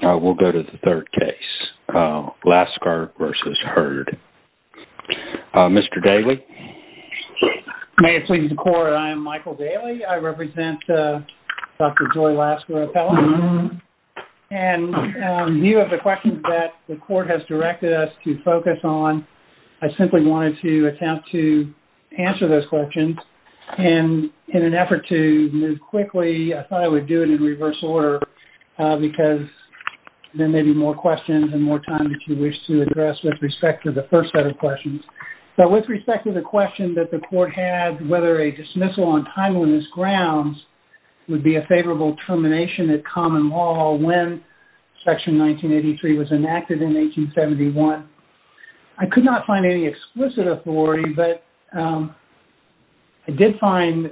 We will go to the third case, Laskar v. Hurd. Mr. Daly. May it please the court, I am Michael Daly. I represent Dr. Joy Laskar O'Feller. And you have the question that the court has directed us to focus on. I simply wanted to attempt to answer those questions and in an effort to move quickly, I thought I would do it in reverse order because there may be more questions and more time that you wish to address with respect to the first set of questions. But with respect to the question that the court had, whether a dismissal on timeliness grounds would be a favorable termination at common law when section 1983 was enacted in 1871. I could not find any explicit authority, but I did find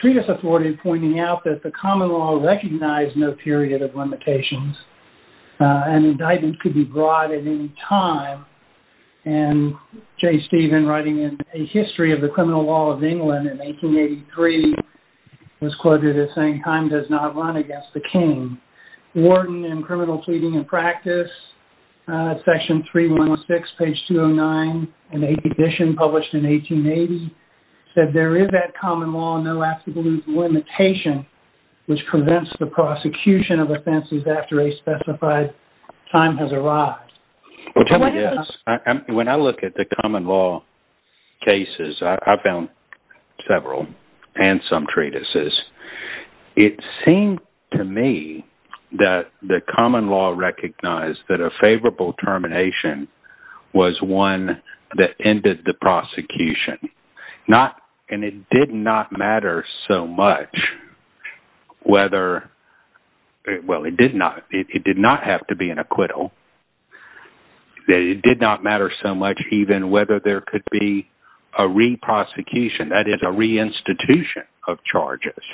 treatise authority pointing out that the common law recognized no period of limitations and indictment could be brought at any time. And J. Stephen writing in a history of the criminal law of England in 1883 was quoted as saying time does not run against the king. Worden in criminal tweeting and practice, section 3106 page 209, an 8th edition published in 1880 said there is at common law no absolute limitation, which prevents the prosecution of offenses after a specified time has arrived. Which I guess, when I look at the common law cases, I found several and some treatises. It seemed to me that the common law recognized that a favorable termination was one that ended the prosecution. Not, and it did not matter so much whether, well, it did not have to be an acquittal. It did not matter so much even whether there could be a re-prosecution, that is a re-institution of charges.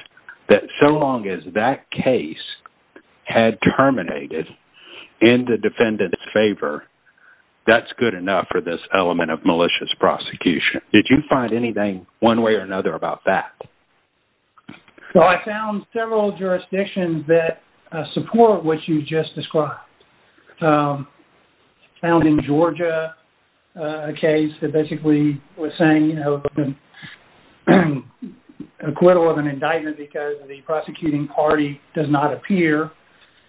That so long as that case had terminated in the defendant's favor, that's good enough for this element of malicious prosecution. Did you find anything one way or another about that? Well, I found several jurisdictions that support what you just described. I found in Georgia a case that basically was saying, you know, the acquittal of an indictment because the prosecuting party does not appear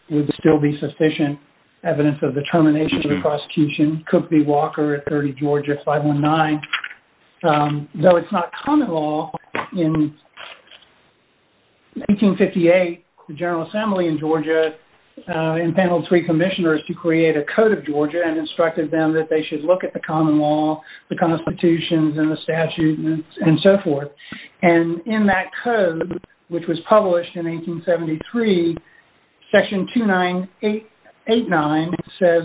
would still be sufficient evidence of the termination of the prosecution. Cook v. Walker at 30 Georgia 519, though it's not common law, in 1858 the General Assembly in Georgia entailed three commissioners to create a code of Georgia and instructed them that they should look at the common law, the constitutions, and the statutes, and so forth. And in that code, which was published in 1873, section 2989 says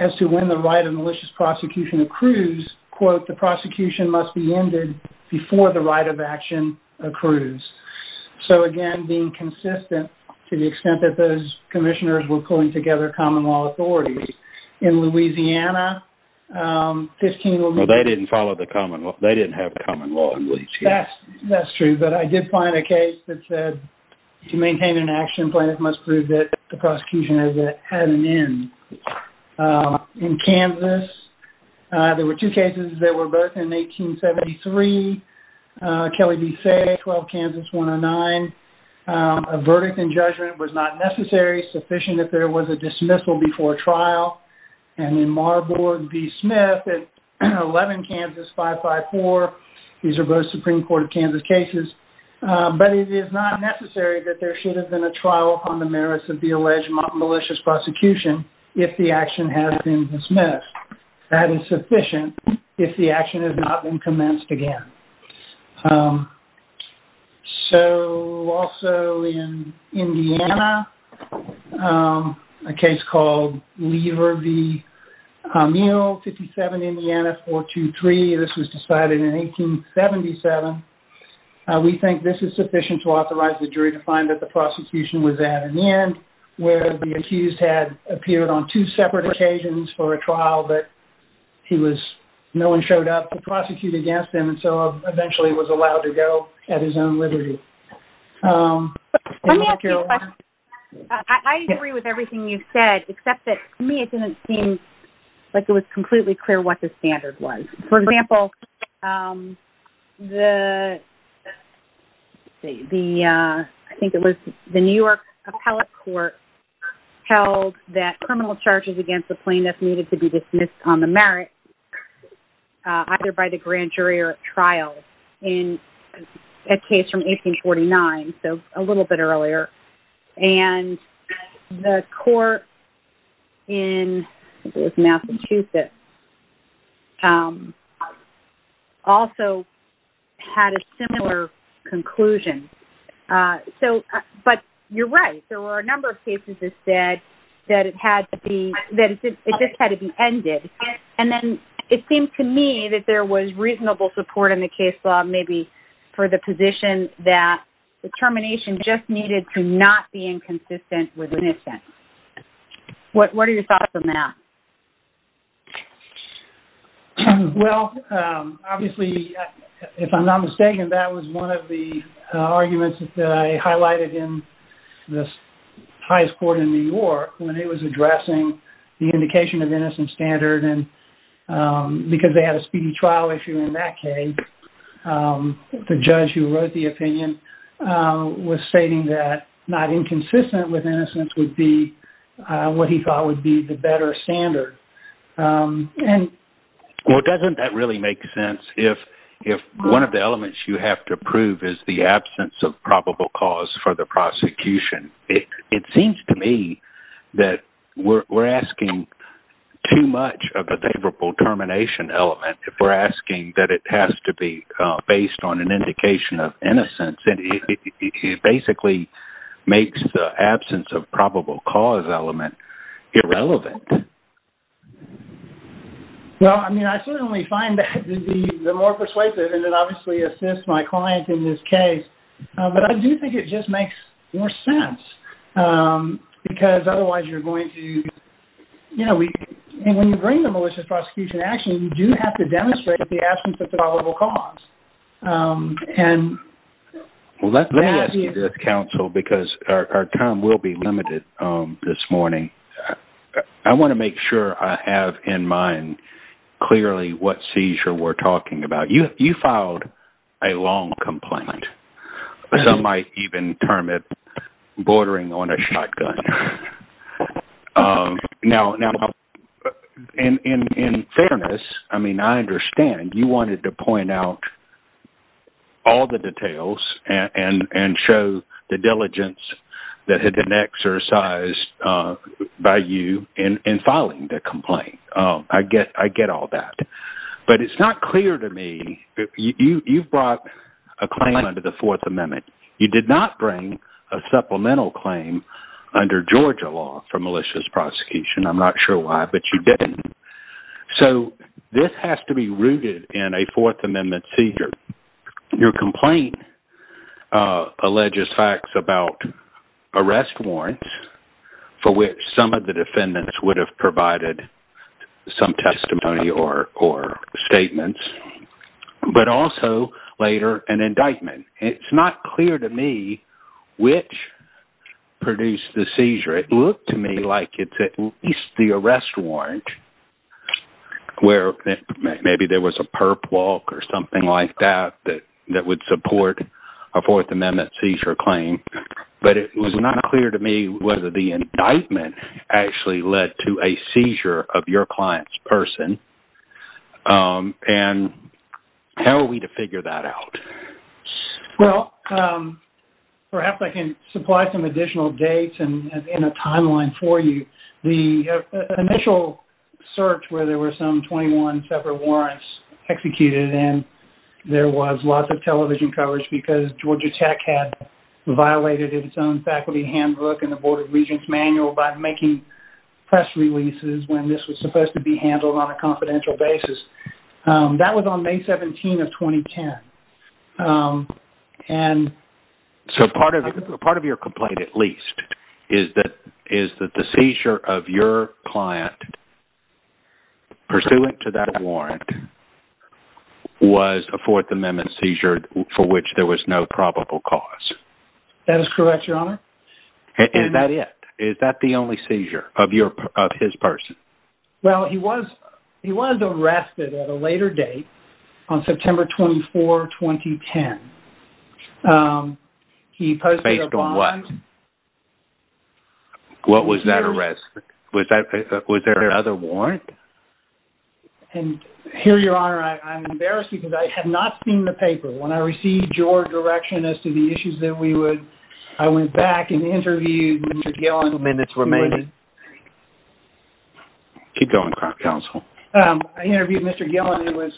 as to when the right of malicious prosecution accrues, quote, the prosecution must be ended before the right of action accrues. So again, being consistent to the extent that those commissioners were pulling together common law authorities. In Louisiana, 15- Well, they didn't follow the common law. They didn't have common law in Louisiana. That's true, but I did find a case that said, to maintain an action plan, it must prove that the prosecution has had an end. In Kansas, there were two cases that were both in 1873, Kelly v. Fay at 12 Kansas 109. A verdict in judgment was not necessary, sufficient if there was a dismissal before trial. And in Marburg v. Smith at 11 Kansas 554, these are both Supreme Court of Kansas cases, but it is not necessary that there should have been a trial on the merits of the alleged malicious prosecution if the action has been dismissed. That is sufficient if the action has not been commenced again. So also in Indiana, a case called Lever v. Mule, 57 Indiana 423. This was decided in 1877. We think this is sufficient to authorize the jury to find that the prosecution was at an end where the accused had appeared on two separate occasions for a trial, but he was- eventually was allowed to go at his own liberty. Let me ask you a question. I agree with everything you said, except that to me it didn't seem like it was completely clear what the standard was. For example, the- I think it was the New York Appellate Court held that criminal charges against the plaintiff needed to be dismissed on the merit, either by the grand jury or at trial, in a case from 1849, so a little bit earlier. And the court in Massachusetts also had a similar conclusion. So- but you're right. There were a number of cases that said that it had to be- that it just had to be ended. And then it seemed to me that there was reasonable support in the case law, maybe for the position that the termination just needed to not be inconsistent with innocence. What are your thoughts on that? Well, obviously, if I'm not mistaken, that was one of the arguments that I highlighted in this highest court in New York when it was addressing the indication of innocence standard, and because they had a speedy trial issue in that case, the judge who wrote the opinion was stating that not inconsistent with innocence would be what he thought would be the better standard. And- Well, doesn't that really make sense? If one of the elements you have to prove is the absence of probable cause for the prosecution. It seems to me that we're asking too much of a favorable termination element if we're asking that it has to be based on an indication of innocence. And it basically makes the absence of probable cause element irrelevant. Well, I mean, I certainly find that to be the more persuasive, and it obviously assists my client in this case. But I do think it just makes more sense because otherwise you're going to, you know, when you bring the malicious prosecution action, you do have to demonstrate the absence of probable cause. And that is- Well, let me ask you this, counsel, because our time will be limited this morning. I want to make sure I have in mind clearly what seizure we're talking about. You filed a long complaint. Some might even term it bordering on a shotgun. Now, in fairness, I mean, I understand you wanted to point out all the details and show the diligence that had been exercised by you in filing the complaint. I get all that. But it's not clear to me that you've brought a claim under the Fourth Amendment. You did not bring a supplemental claim under Georgia law for malicious prosecution. I'm not sure why, but you didn't. So this has to be rooted in a Fourth Amendment seizure. Your complaint alleges facts about arrest warrants for which some of the defendants would have provided some testimony or statements, but also later an indictment. It's not clear to me which produced the seizure. It looked to me like it's at least the arrest warrant where maybe there was a perp walk or something like that that would support a Fourth Amendment seizure claim. But it was not clear to me whether the indictment actually led to a seizure of your client's person. And how are we to figure that out? Well, perhaps I can supply some additional dates and a timeline for you. The initial search where there were some 21 separate warrants executed and there was lots of television coverage because Georgia Tech had violated its own faculty handbook and the Board of Regents manual by making press releases when this was supposed to be handled on a confidential basis. That was on May 17 of 2010. And so part of your complaint at least is that the seizure of your client pursuant to that warrant was a Fourth Amendment seizure for which there was no probable cause. That is correct, Your Honor. And that's it? Is that the only seizure of his person? Well, he was arrested at a later date on September 24, 2010. He posted a bond. Based on what? What was that arrest? Was there another warrant? And here, Your Honor, I'm embarrassed because I have not seen the paper. When I received your direction as to the issues that we would, I went back and interviewed Mr. Gillen. Minutes remaining. Keep going, counsel. I interviewed Mr. Gillen who was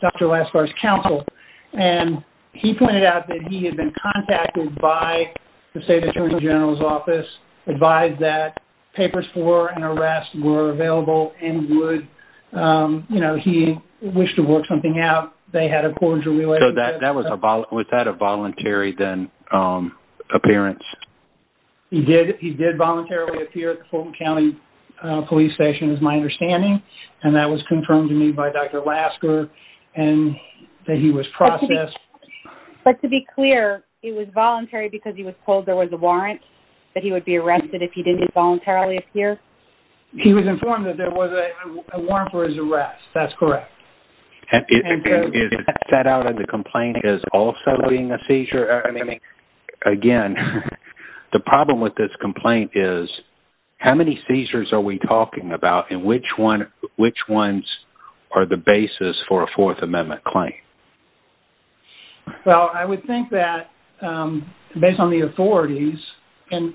Dr. Laskar's counsel and he pointed out that he was advised that papers for an arrest were available and would, you know, he wished to work something out. They had a cordial relationship. Was that a voluntary then appearance? He did. He did voluntarily appear at the Fulton County Police Station is my understanding. And that was confirmed to me by Dr. Laskar and that he was processed. But to be clear, it was voluntary because he was told there was a warrant that he would be arrested if he didn't voluntarily appear? He was informed that there was a warrant for his arrest. That's correct. And is that set out in the complaint as also being a seizure? I mean, again, the problem with this complaint is how many seizures are we talking about and which ones are the basis for a Fourth Amendment claim? Well, I would think that based on the authorities and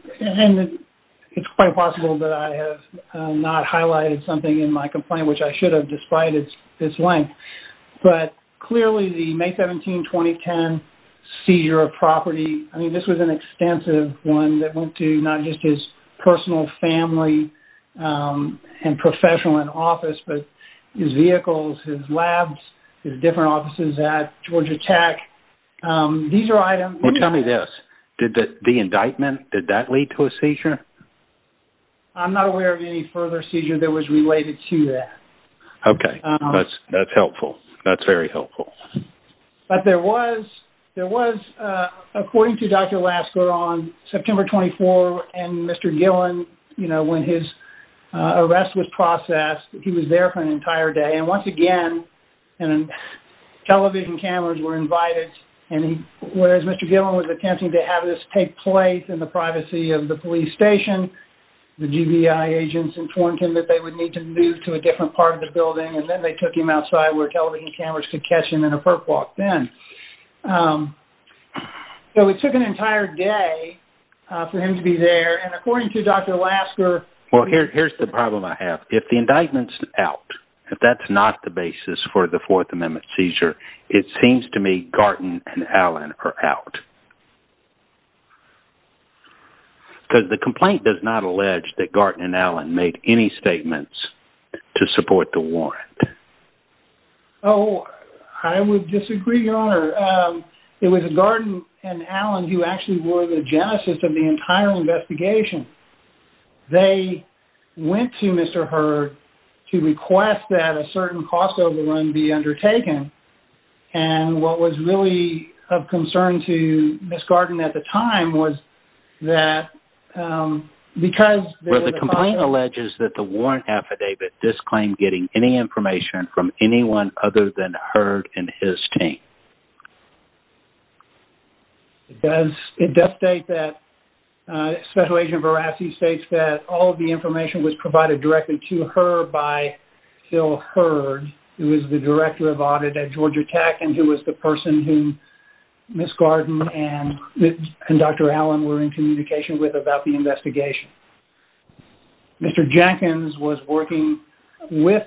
it's quite possible that I have not highlighted something in my complaint, which I should have despite its length. But clearly the May 17, 2010 seizure of property, I mean, this was an extensive one that went to not just his personal family and professional and office, but his vehicles, his labs, his different offices at Georgia Tech. These are items. Well, tell me this. Did the indictment, did that lead to a seizure? I'm not aware of any further seizure that was related to that. Okay. That's helpful. That's very helpful. But there was, according to Dr. Laskar on September 24 and Mr. Gillen, you know, when his arrest was processed, he was there for an entire day. And once again, television cameras were invited and he, whereas Mr. Gillen was attempting to have this take place in the privacy of the police station, the GBI agents informed him that they would need to move to a different part of the building and then they took him outside where television cameras could catch him in a perp walk then. So it took an entire day for him to be there. And according to Dr. Laskar- Well, here's the problem I have. If the indictment's out, if that's not the basis for the Fourth Amendment seizure, it seems to me Garton and Allen are out. Because the complaint does not allege that Garton and Allen made any statements to support the warrant. Oh, I would disagree, Your Honor. It was Garton and Allen who actually were the genesis of the entire investigation. They went to Mr. Hurd to request that a certain cost overrun be undertaken. And what was really of concern to Ms. Garton at the time was that because- Well, the complaint alleges that the warrant affidavit disclaimed getting any information from anyone other than Hurd and his team. It does state that Special Agent Verassi states that all of the information was provided directly to Hurd by Phil Hurd, who is the Director of Audit at Georgia Tech and who was the person who Ms. Garton and Dr. Allen were in communication with about the investigation. Mr. Jenkins was working with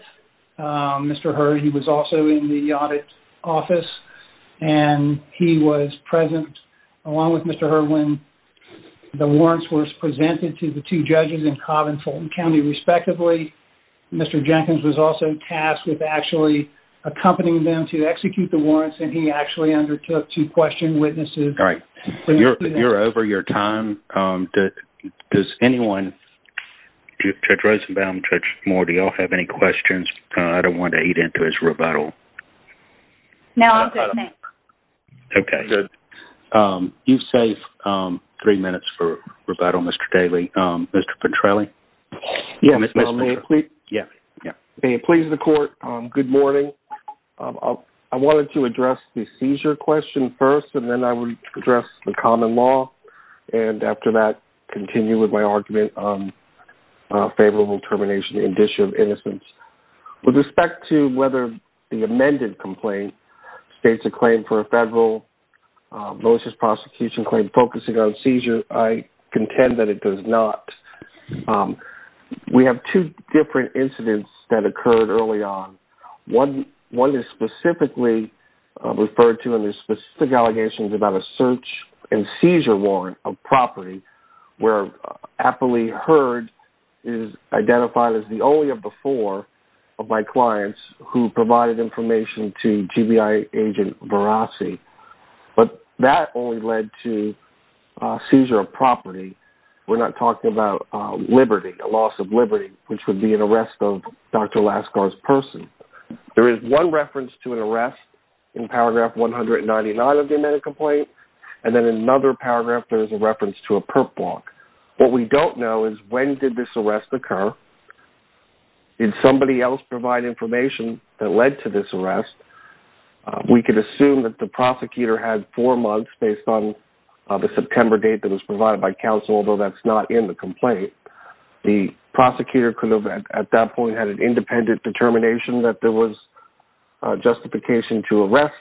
Mr. Hurd. He was also in the audit office, and he was present along with Mr. Hurd when the warrants were presented to the two judges in Cobb and Fulton County, respectively. Mr. Jenkins was also tasked with actually accompanying them to execute the warrants, and he actually undertook to question witnesses. All right. You're over your time. Does anyone, Judge Rosenbaum, Judge Moore, do you all have any questions? I don't want to eat into his rebuttal. No, I'm good. Thanks. Okay. You've saved three minutes for rebuttal, Mr. Daley. Mr. Petrelli? Yeah, Mr. Petrelli. May it please the Court, good morning. I wanted to address the seizure question first, and then I would address the common law, with respect to whether the amended complaint states a claim for a federal malicious prosecution claim focusing on seizures. I contend that it does not. We have two different incidents that occurred early on. One is specifically referred to under specific allegations about a search and seizure warrant of property, where Appley Heard is identified as the only of the four of my clients who provided information to GBI agent Varasi, but that only led to seizure of property. We're not talking about liberty, a loss of liberty, which would be an arrest of Dr. Lascar's person. There is one reference to an arrest in paragraph 199 of the amended complaint, and then in another paragraph, there is a reference to a perp block. What we don't know is when did this arrest occur? Did somebody else provide information that led to this arrest? We could assume that the prosecutor had four months based on the September date that was provided by counsel, although that's not in the complaint. The prosecutor could have, at that point, had an independent determination that there was justification to arrest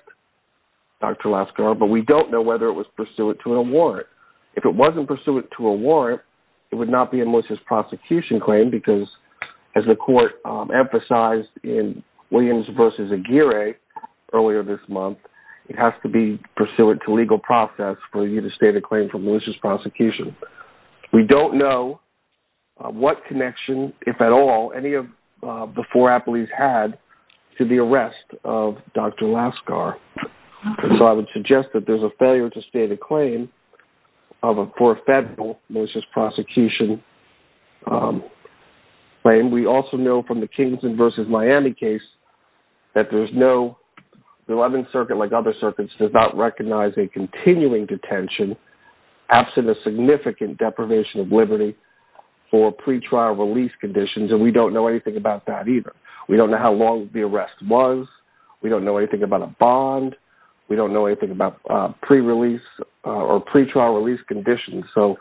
Dr. Lascar, but we don't know whether it was pursuant to a warrant. If it wasn't pursuant to a warrant, it would not be a malicious prosecution claim, because as the court emphasized in Williams v. Aguirre earlier this month, it has to be pursuant to legal process for you to state a claim for malicious prosecution. We don't know what connection, if at all, any of the four Appley's had to the arrest of Dr. Lascar. So I would suggest that there's a failure to state a claim for a federal malicious prosecution claim. We also know from the Kingston v. Miami case that there's no— the 11th Circuit, like other circuits, does not recognize a continuing detention absent a significant deprivation of liberty for pretrial release conditions, and we don't know anything about that either. We don't know how long the arrest was. We don't know anything about a bond. We don't know anything about pre-release or pretrial release conditions. So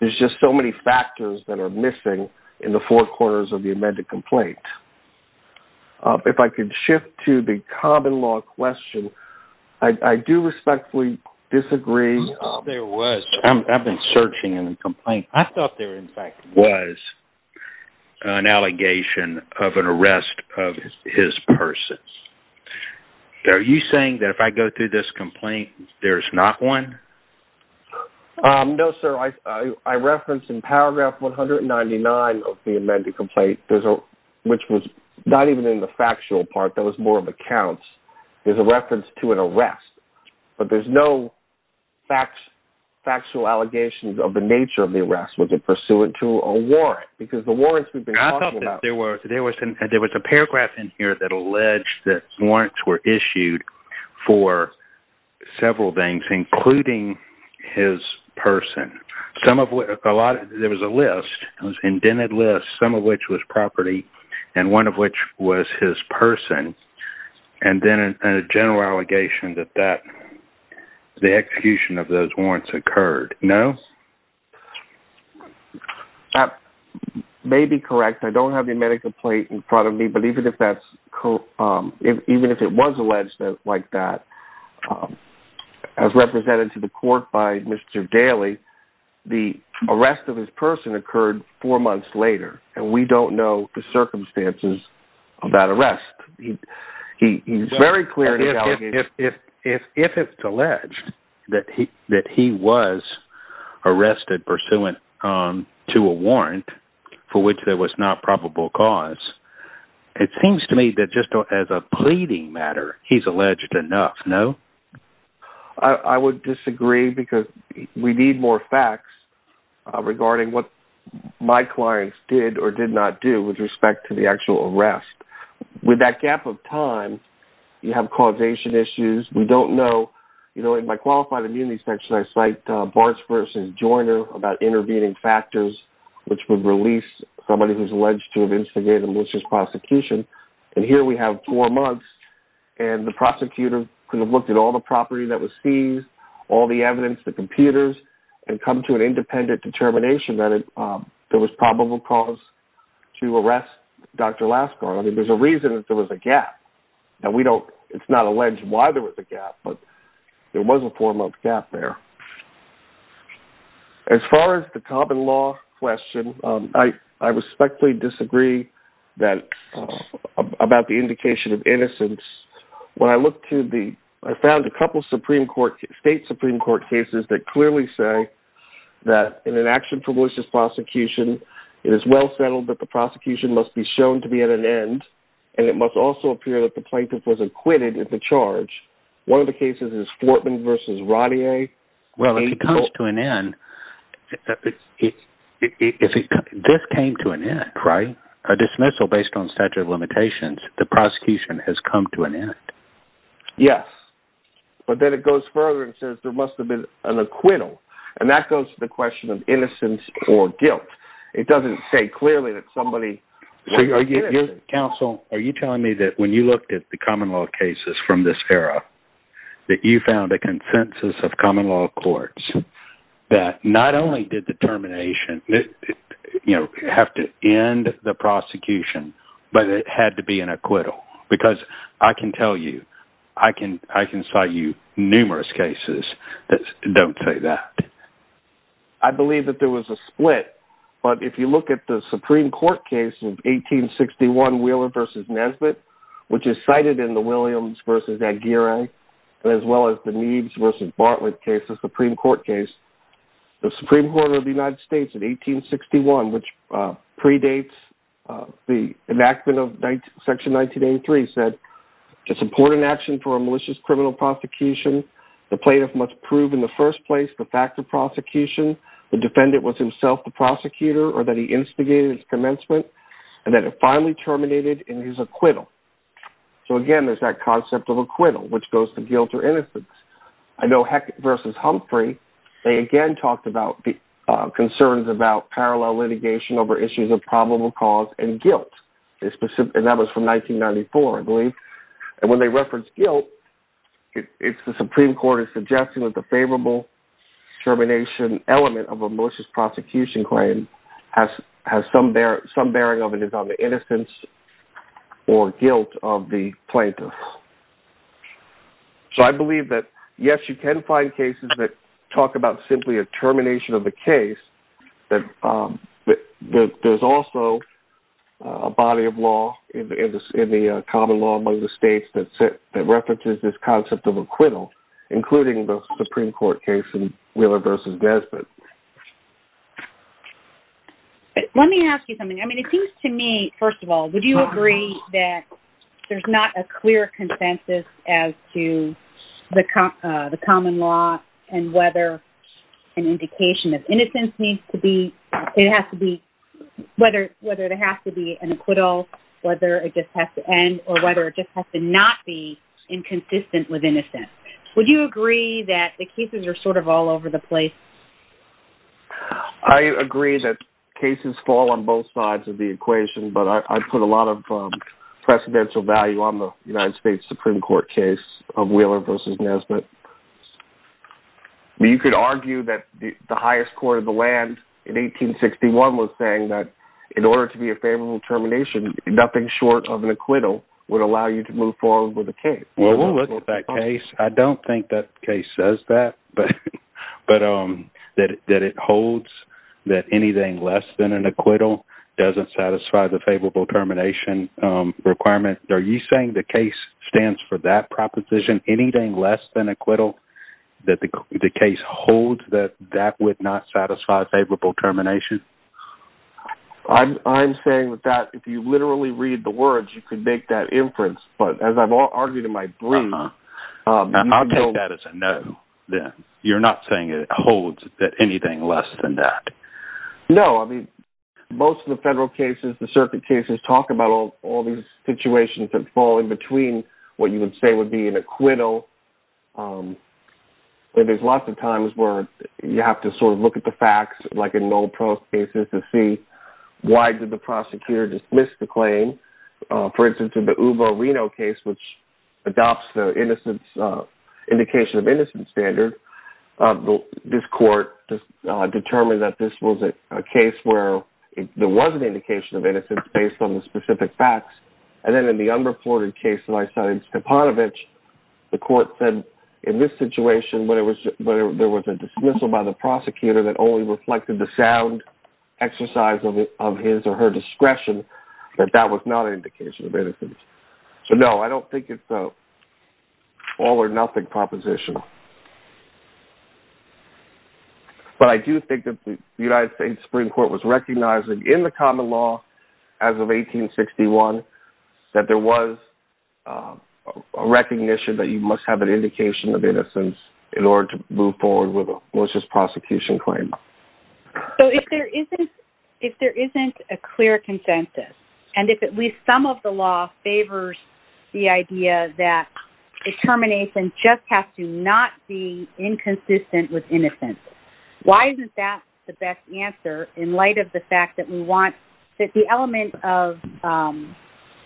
there's just so many factors that are missing in the four corners of the amended complaint. If I could shift to the common law question, I do respectfully disagree— I thought there was. I've been searching in the complaint. I thought there, in fact, was an allegation of an arrest of his person. Are you saying that if I go through this complaint, there's not one? No, sir. I referenced in paragraph 199 of the amended complaint, which was not even in the factual part. That was more of a count. There's a reference to an arrest, but there's no factual allegations of the nature of the arrest. Was it pursuant to a warrant? Because the warrants we've alleged that warrants were issued for several things, including his person. There was a list, an indented list, some of which was property and one of which was his person, and then a general allegation that the execution of those warrants occurred. No? That may be correct. I don't have the amended complaint in front of me, but even if it was alleged like that, as represented to the court by Mr. Daley, the arrest of his person occurred four months later, and we don't know the circumstances of that arrest. He's very clear in the allegation— If it's alleged that he was arrested pursuant to a warrant, for which there was not probable cause, it seems to me that just as a pleading matter, he's alleged enough. No? I would disagree because we need more facts regarding what my clients did or did not do with respect to the actual arrest. With that gap of time, you have causation issues. We don't know. In my qualified immunity section, I cite Barnes v. Joyner about intervening factors which would release somebody who's alleged to have instigated a malicious prosecution, and here we have four months, and the prosecutor could have looked at all the property that was seized, all the evidence, the computers, and come to an independent determination that there was probable cause to arrest Dr. Laskar. There's a reason that there was a gap. It's not alleged why there was a gap, but there was a four-month gap there. As far as the common law question, I respectfully disagree about the indication of innocence. When I look to the— I found a couple of state Supreme Court cases that clearly say that in an action for malicious prosecution, it is well settled that the prosecution must be shown to be at an end, and it must also appear that the plaintiff was acquitted at the charge. One of the cases is Fortman v. Rodier— Well, if he comes to an end— This came to an end, right? A dismissal based on statute of limitations, the prosecution has come to an end. Yes, but then it goes further and says there must have been an acquittal, and that goes to the question of innocence or guilt. It doesn't say clearly that somebody— Counsel, are you telling me that when you looked at the common law cases from this era, that you found a consensus of common law courts that not only did the termination have to end the prosecution, but it had to be an acquittal? Because I can tell you, I can cite you numerous cases that don't say that. I believe that there was a split, but if you look at the Supreme Court case of 1861, Wheeler v. Nesbitt, which is cited in the Williams v. Aguirre, as well as the Meads v. Bartlett case, the Supreme Court case, the Supreme Court of the United States in 1861, which predates the enactment of Section 1983, said, to support an action for a malicious criminal prosecution, the plaintiff must prove in the first place the fact of prosecution, the defendant was himself the prosecutor, or that he instigated his commencement, and that it finally terminated in his acquittal. So again, there's that concept of acquittal, which goes to guilt or innocence. I know Heck v. Humphrey, they again talked about concerns about parallel litigation over issues of probable cause and guilt, and that was from 1994, I believe. And when they referenced guilt, it's the Supreme Court is suggesting that the favorable termination element of a malicious prosecution claim has some bearing of it is on the innocence or guilt of the plaintiff. So I believe that, yes, you can find cases that talk about simply a termination of the case, but there's also a body of law in the common law among the states that references this concept of acquittal, including the Supreme Court case in Wheeler v. Desmond. Let me ask you something. I mean, it seems to me, first of all, would you agree that there's not a clear consensus as to the common law and whether an indication of innocence needs to be, it has to be, whether it has to be an acquittal, whether it just has to end or whether it just has to not be inconsistent with innocence. Would you agree that the cases are sort of all over the place? I agree that cases fall on both sides of the equation, but I put a lot of precedential value on the United States Supreme Court case of Wheeler v. Desmond. You could argue that the highest court of the land in 1861 was saying that in order to be a favorable termination, nothing short of an acquittal would allow you to move forward with a case. Well, we'll look at that case. I don't think that case says that, but that it holds that anything less than an acquittal doesn't satisfy the favorable termination requirement. Are you saying the case stands for that proposition, anything less than acquittal, that the case holds that that would not satisfy favorable termination? I'm saying that if you literally read the words, you could make that inference, but as I've argued in my brief... I'll take that as a no, then. You're not saying it holds that anything less than that? No. I mean, most of the federal cases, the circuit cases, talk about all these situations that fall in between what you would say would be an acquittal. There's lots of times where you have to sort of look at the facts, like in no-prose cases, to see why did the prosecutor dismiss the claim? For instance, in the Uvo Reno case, which was a case where there was an indication of innocence based on the specific facts, and then in the unreported case that I cited, Stepanovich, the court said in this situation, when there was a dismissal by the prosecutor that only reflected the sound exercise of his or her discretion, that that was not an indication of innocence. So no, I don't think it's an all-or-nothing proposition. But I do think that the United States Supreme Court was recognizing in the common law as of 1861 that there was a recognition that you must have an indication of innocence in order to move forward with a malicious prosecution claim. So if there isn't a clear consensus, and if at least some of the law favors the idea that determination just has to not be inconsistent with innocence, why isn't that the best answer in light of the fact that we want that the element of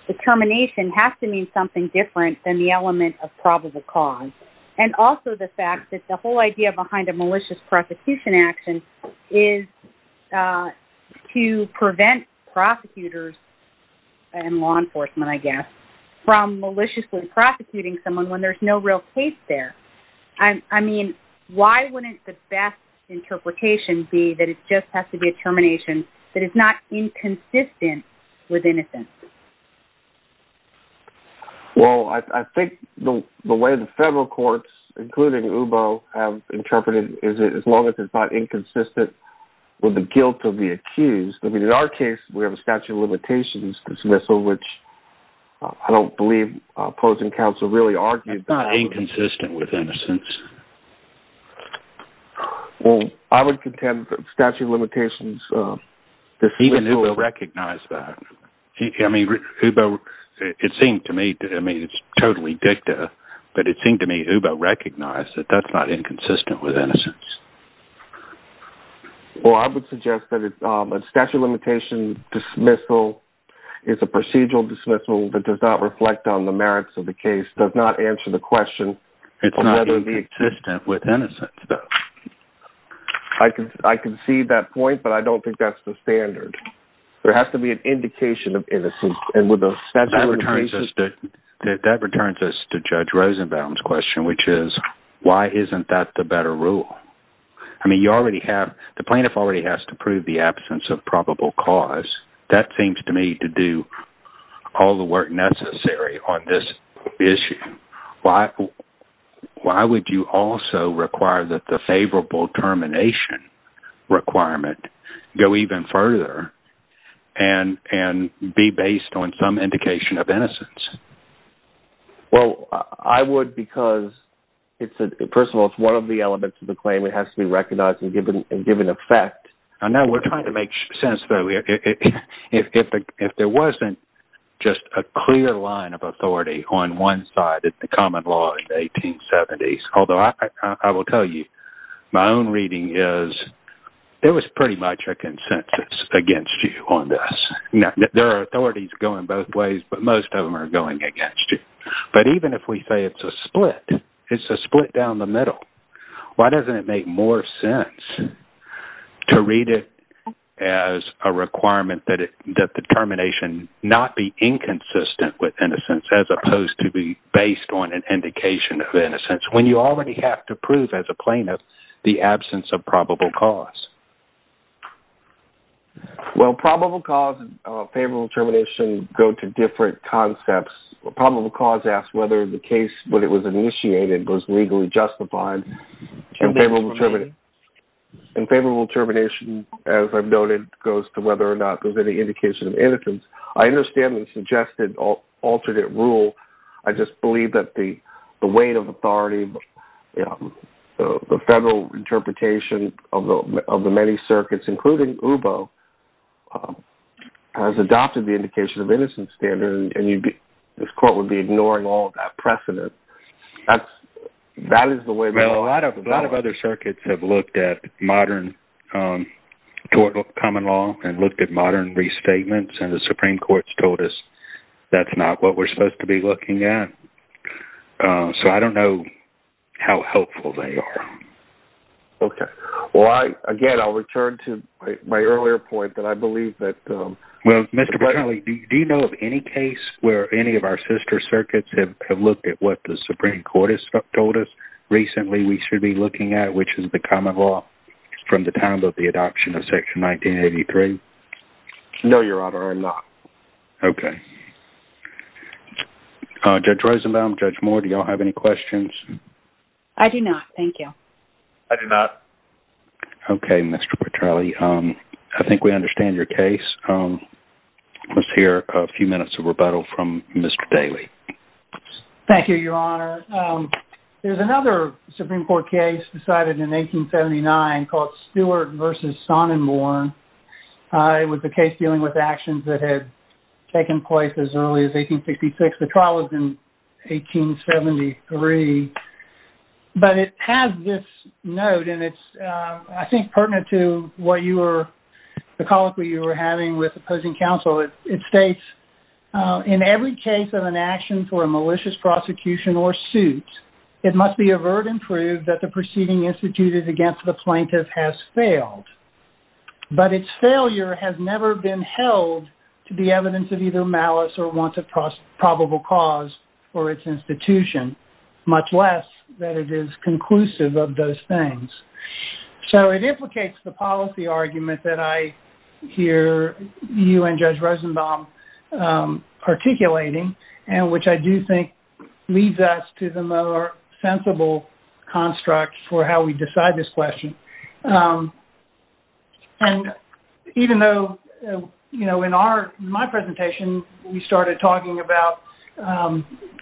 determination has to mean something different than the element of probable cause? And also the fact that the whole idea behind a malicious prosecution action is to prevent prosecutors and law enforcement, I guess, from maliciously when there's no real case there. I mean, why wouldn't the best interpretation be that it just has to be a determination that is not inconsistent with innocence? Well, I think the way the federal courts, including UBO, have interpreted is as long as it's not inconsistent with the guilt of the accused. I mean, in our case, we have a statute of limitations dismissal, which I don't believe opposing counsel really argued. It's not inconsistent with innocence. Well, I would contend that statute of limitations... Even UBO recognized that. I mean, UBO, it seemed to me, I mean, it's totally dicta, but it seemed to me UBO recognized that that's not inconsistent with innocence. Well, I would suggest that a statute of limitation dismissal is a procedural dismissal that does not reflect on the merits of the case, does not answer the question of whether the... It's not inconsistent with innocence, though. I can see that point, but I don't think that's the standard. There has to be an indication of innocence, and with a statute of limitations... That returns us to Judge Rosenbaum's question, which is, why isn't that the better rule? I mean, you already have... The plaintiff already has to prove the absence of probable cause. That seems to me to do all the work necessary on this issue. Why would you also require that the favorable termination requirement go even further and be based on some indication of innocence? Well, I would because it's a... First of all, it's one of the elements of the claim. It has to be recognized and given effect. I know we're trying to make sense, though. If there wasn't just a clear line of authority on one side of the common law in the 1870s, although I will tell you, my own reading is there was pretty much a consensus against you on this. Now, there are authorities going both against you, but even if we say it's a split, it's a split down the middle, why doesn't it make more sense to read it as a requirement that the termination not be inconsistent with innocence as opposed to be based on an indication of innocence when you already have to prove as a plaintiff the absence of probable cause? Well, probable cause and favorable termination go to different concepts. Probable cause asks whether the case, when it was initiated, was legally justified in favorable termination. In favorable termination, as I've noted, goes to whether or not there's any indication of innocence. I understand the suggested alternate rule. I just believe that the weight of authority, you know, the federal interpretation of the many circuits, including UBO, has adopted the indication of innocence standard, and this court would be ignoring all that precedent. That is the way... Well, a lot of other circuits have looked at modern common law and looked at modern restatements, and the Supreme Court's told us that's not what we're supposed to be looking at, so I don't know how helpful they are. Okay. Well, again, I'll return to my earlier point that I believe that... Well, Mr. Paterno, do you know of any case where any of our sister circuits have looked at what the Supreme Court has told us recently we should be looking at, which is the common law from the time of the adoption of Section 1983? No, Your Honor, I'm not. Okay. Judge Rosenbaum, Judge Moore, do y'all have any questions? I do not, thank you. I do not. Okay, Mr. Paterno. I think we understand your case. Let's hear a few minutes of rebuttal from Mr. Daley. Thank you, Your Honor. There's another Supreme Court case decided in 1879 called Stewart v. Sonnenborn. It was a case dealing with actions that had taken place as early as 1866. The trial was in 1873, but it has this note, and it's, I think, pertinent to what you were... the colloquy you were having with opposing counsel. It states, in every case of an action for a malicious prosecution or suit, it must be averred and proved that the proceeding instituted against the plaintiff has failed, but its failure has never been held to the evidence of either malice or want of probable cause for its institution, much less that it is conclusive of those things. So it implicates the policy argument that I hear you and Judge Rosenbaum articulating, and which I do think leads us to the more sensible construct for how we decide this question. And even though, you know, in our... in my presentation, we started talking about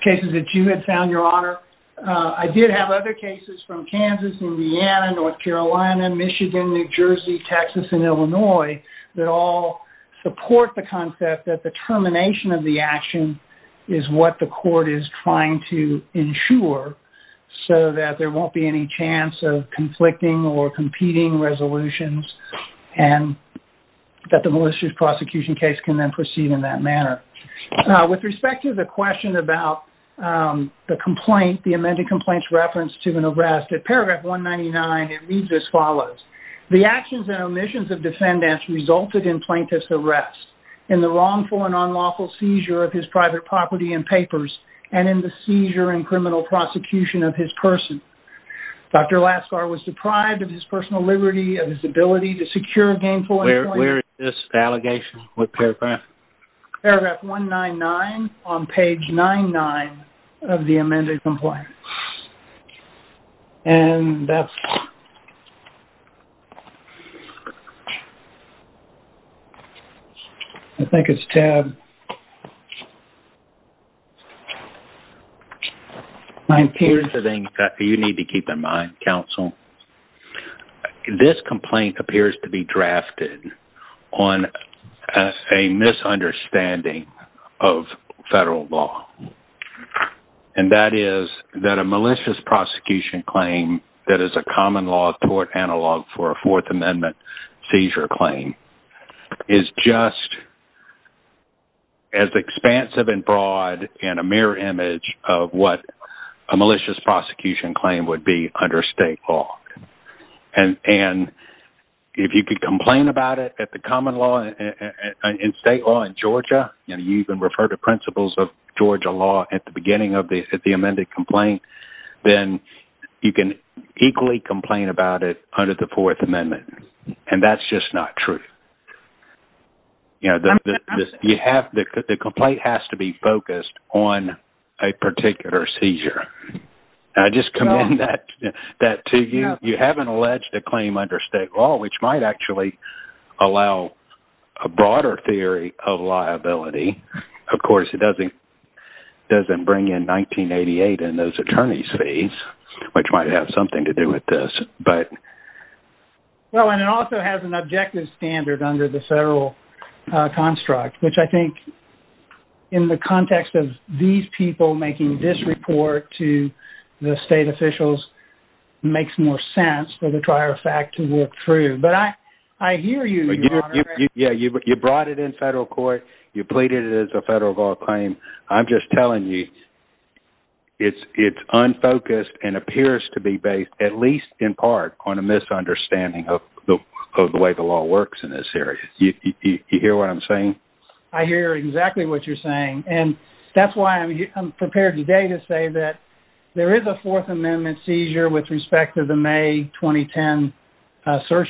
cases that you had found, Your Honor, I did have other cases from Kansas, Indiana, North Carolina, Michigan, New Jersey, Texas, and Illinois that all support the concept that the termination of the action is what the court is trying to ensure so that there won't be any chance of conflicting or competing resolutions, and that the malicious prosecution case can then proceed in that manner. With respect to the question about the complaint, the amended complaint's reference to an arrest, at paragraph 199, it reads as follows, the actions and omissions of defendants resulted in plaintiff's arrest, in the wrongful and unlawful seizure of his private property and papers, and in the seizure and criminal prosecution of his person. Dr. Laskar was deprived of his personal liberty, of his ability to secure gainful... Where is this allegation? What paragraph? Paragraph 199 on page 99 of the amended complaint. And that's... I think it's tab... My peers... Here's the thing that you need to keep in mind, counsel. This complaint appears to be drafted on a misunderstanding of federal law, and that is that a malicious prosecution claim that is a common law tort analog for a Fourth Amendment seizure claim is just as expansive and broad in a mirror image of what a malicious prosecution claim would be under state law. And if you could complain about it at the common law, in state law in Georgia, and you can refer to principles of Georgia law at the beginning of the amended complaint, then you can equally complain about it under the Fourth Amendment, and that's just not true. I'm just... You have... The complaint has to be focused on a particular seizure. And I just commend that to you. You haven't alleged a claim under state law, which might actually allow a broader theory of liability. Of course, it doesn't bring in 1988 in those attorney's fees, which might have something to do with this, but... Well, and it also has an objective standard under the federal construct, which I think, in the context of these people making this report to the state officials, makes more sense for the prior fact to work through. But I hear you, Your Honor. Yeah, you brought it in federal court. You pleaded it as a federal law claim. I'm just telling you, it's unfocused and appears to be based, at least in part, on a misunderstanding of the way the law works in this area. You hear what I'm saying? I hear exactly what you're saying. And that's why I'm prepared today to say that there is a Fourth Amendment seizure with respect to the May 2010 search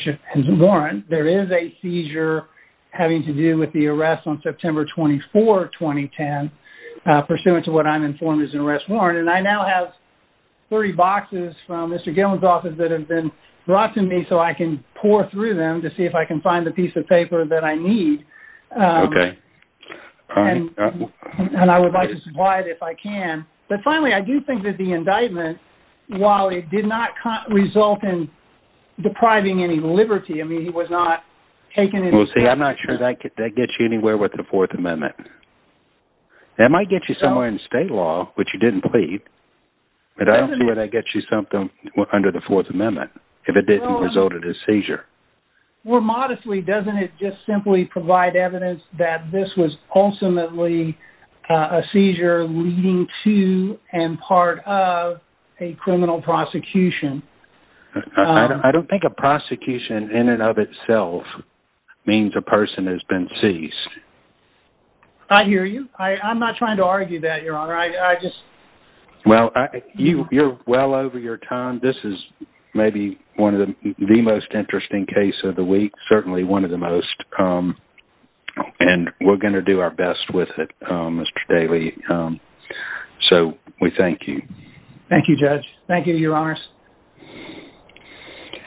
warrant. There is a seizure having to do with the arrest on September 24, 2010, pursuant to what I'm informed is an arrest warrant. And I now have 30 boxes from Mr. Gillen's office that have been brought to me so I can pour through them to see if I can find the piece of paper that I need. And I would like to supply it if I can. But finally, I do think that the indictment, while it did not result in depriving any liberty, I mean, it was not taken into consideration. Well, see, I'm not sure that gets you anywhere with the Fourth Amendment. It might get you somewhere in state law, which you didn't plead. But I don't see where that gets you something under the Fourth Amendment, if it didn't result in a seizure. More modestly, doesn't it just simply provide evidence that this was ultimately a seizure leading to and part of a criminal prosecution? I don't think a prosecution in and of itself means a person has been seized. I hear you. I'm not trying to argue that, Your Honor. I just... Well, you're well over your time. This is maybe one of the most interesting case of the week, certainly one of the most. And we're going to do our best with it, Mr. Daley. So we thank you. Thank you, Judge. Thank you, Your Honors.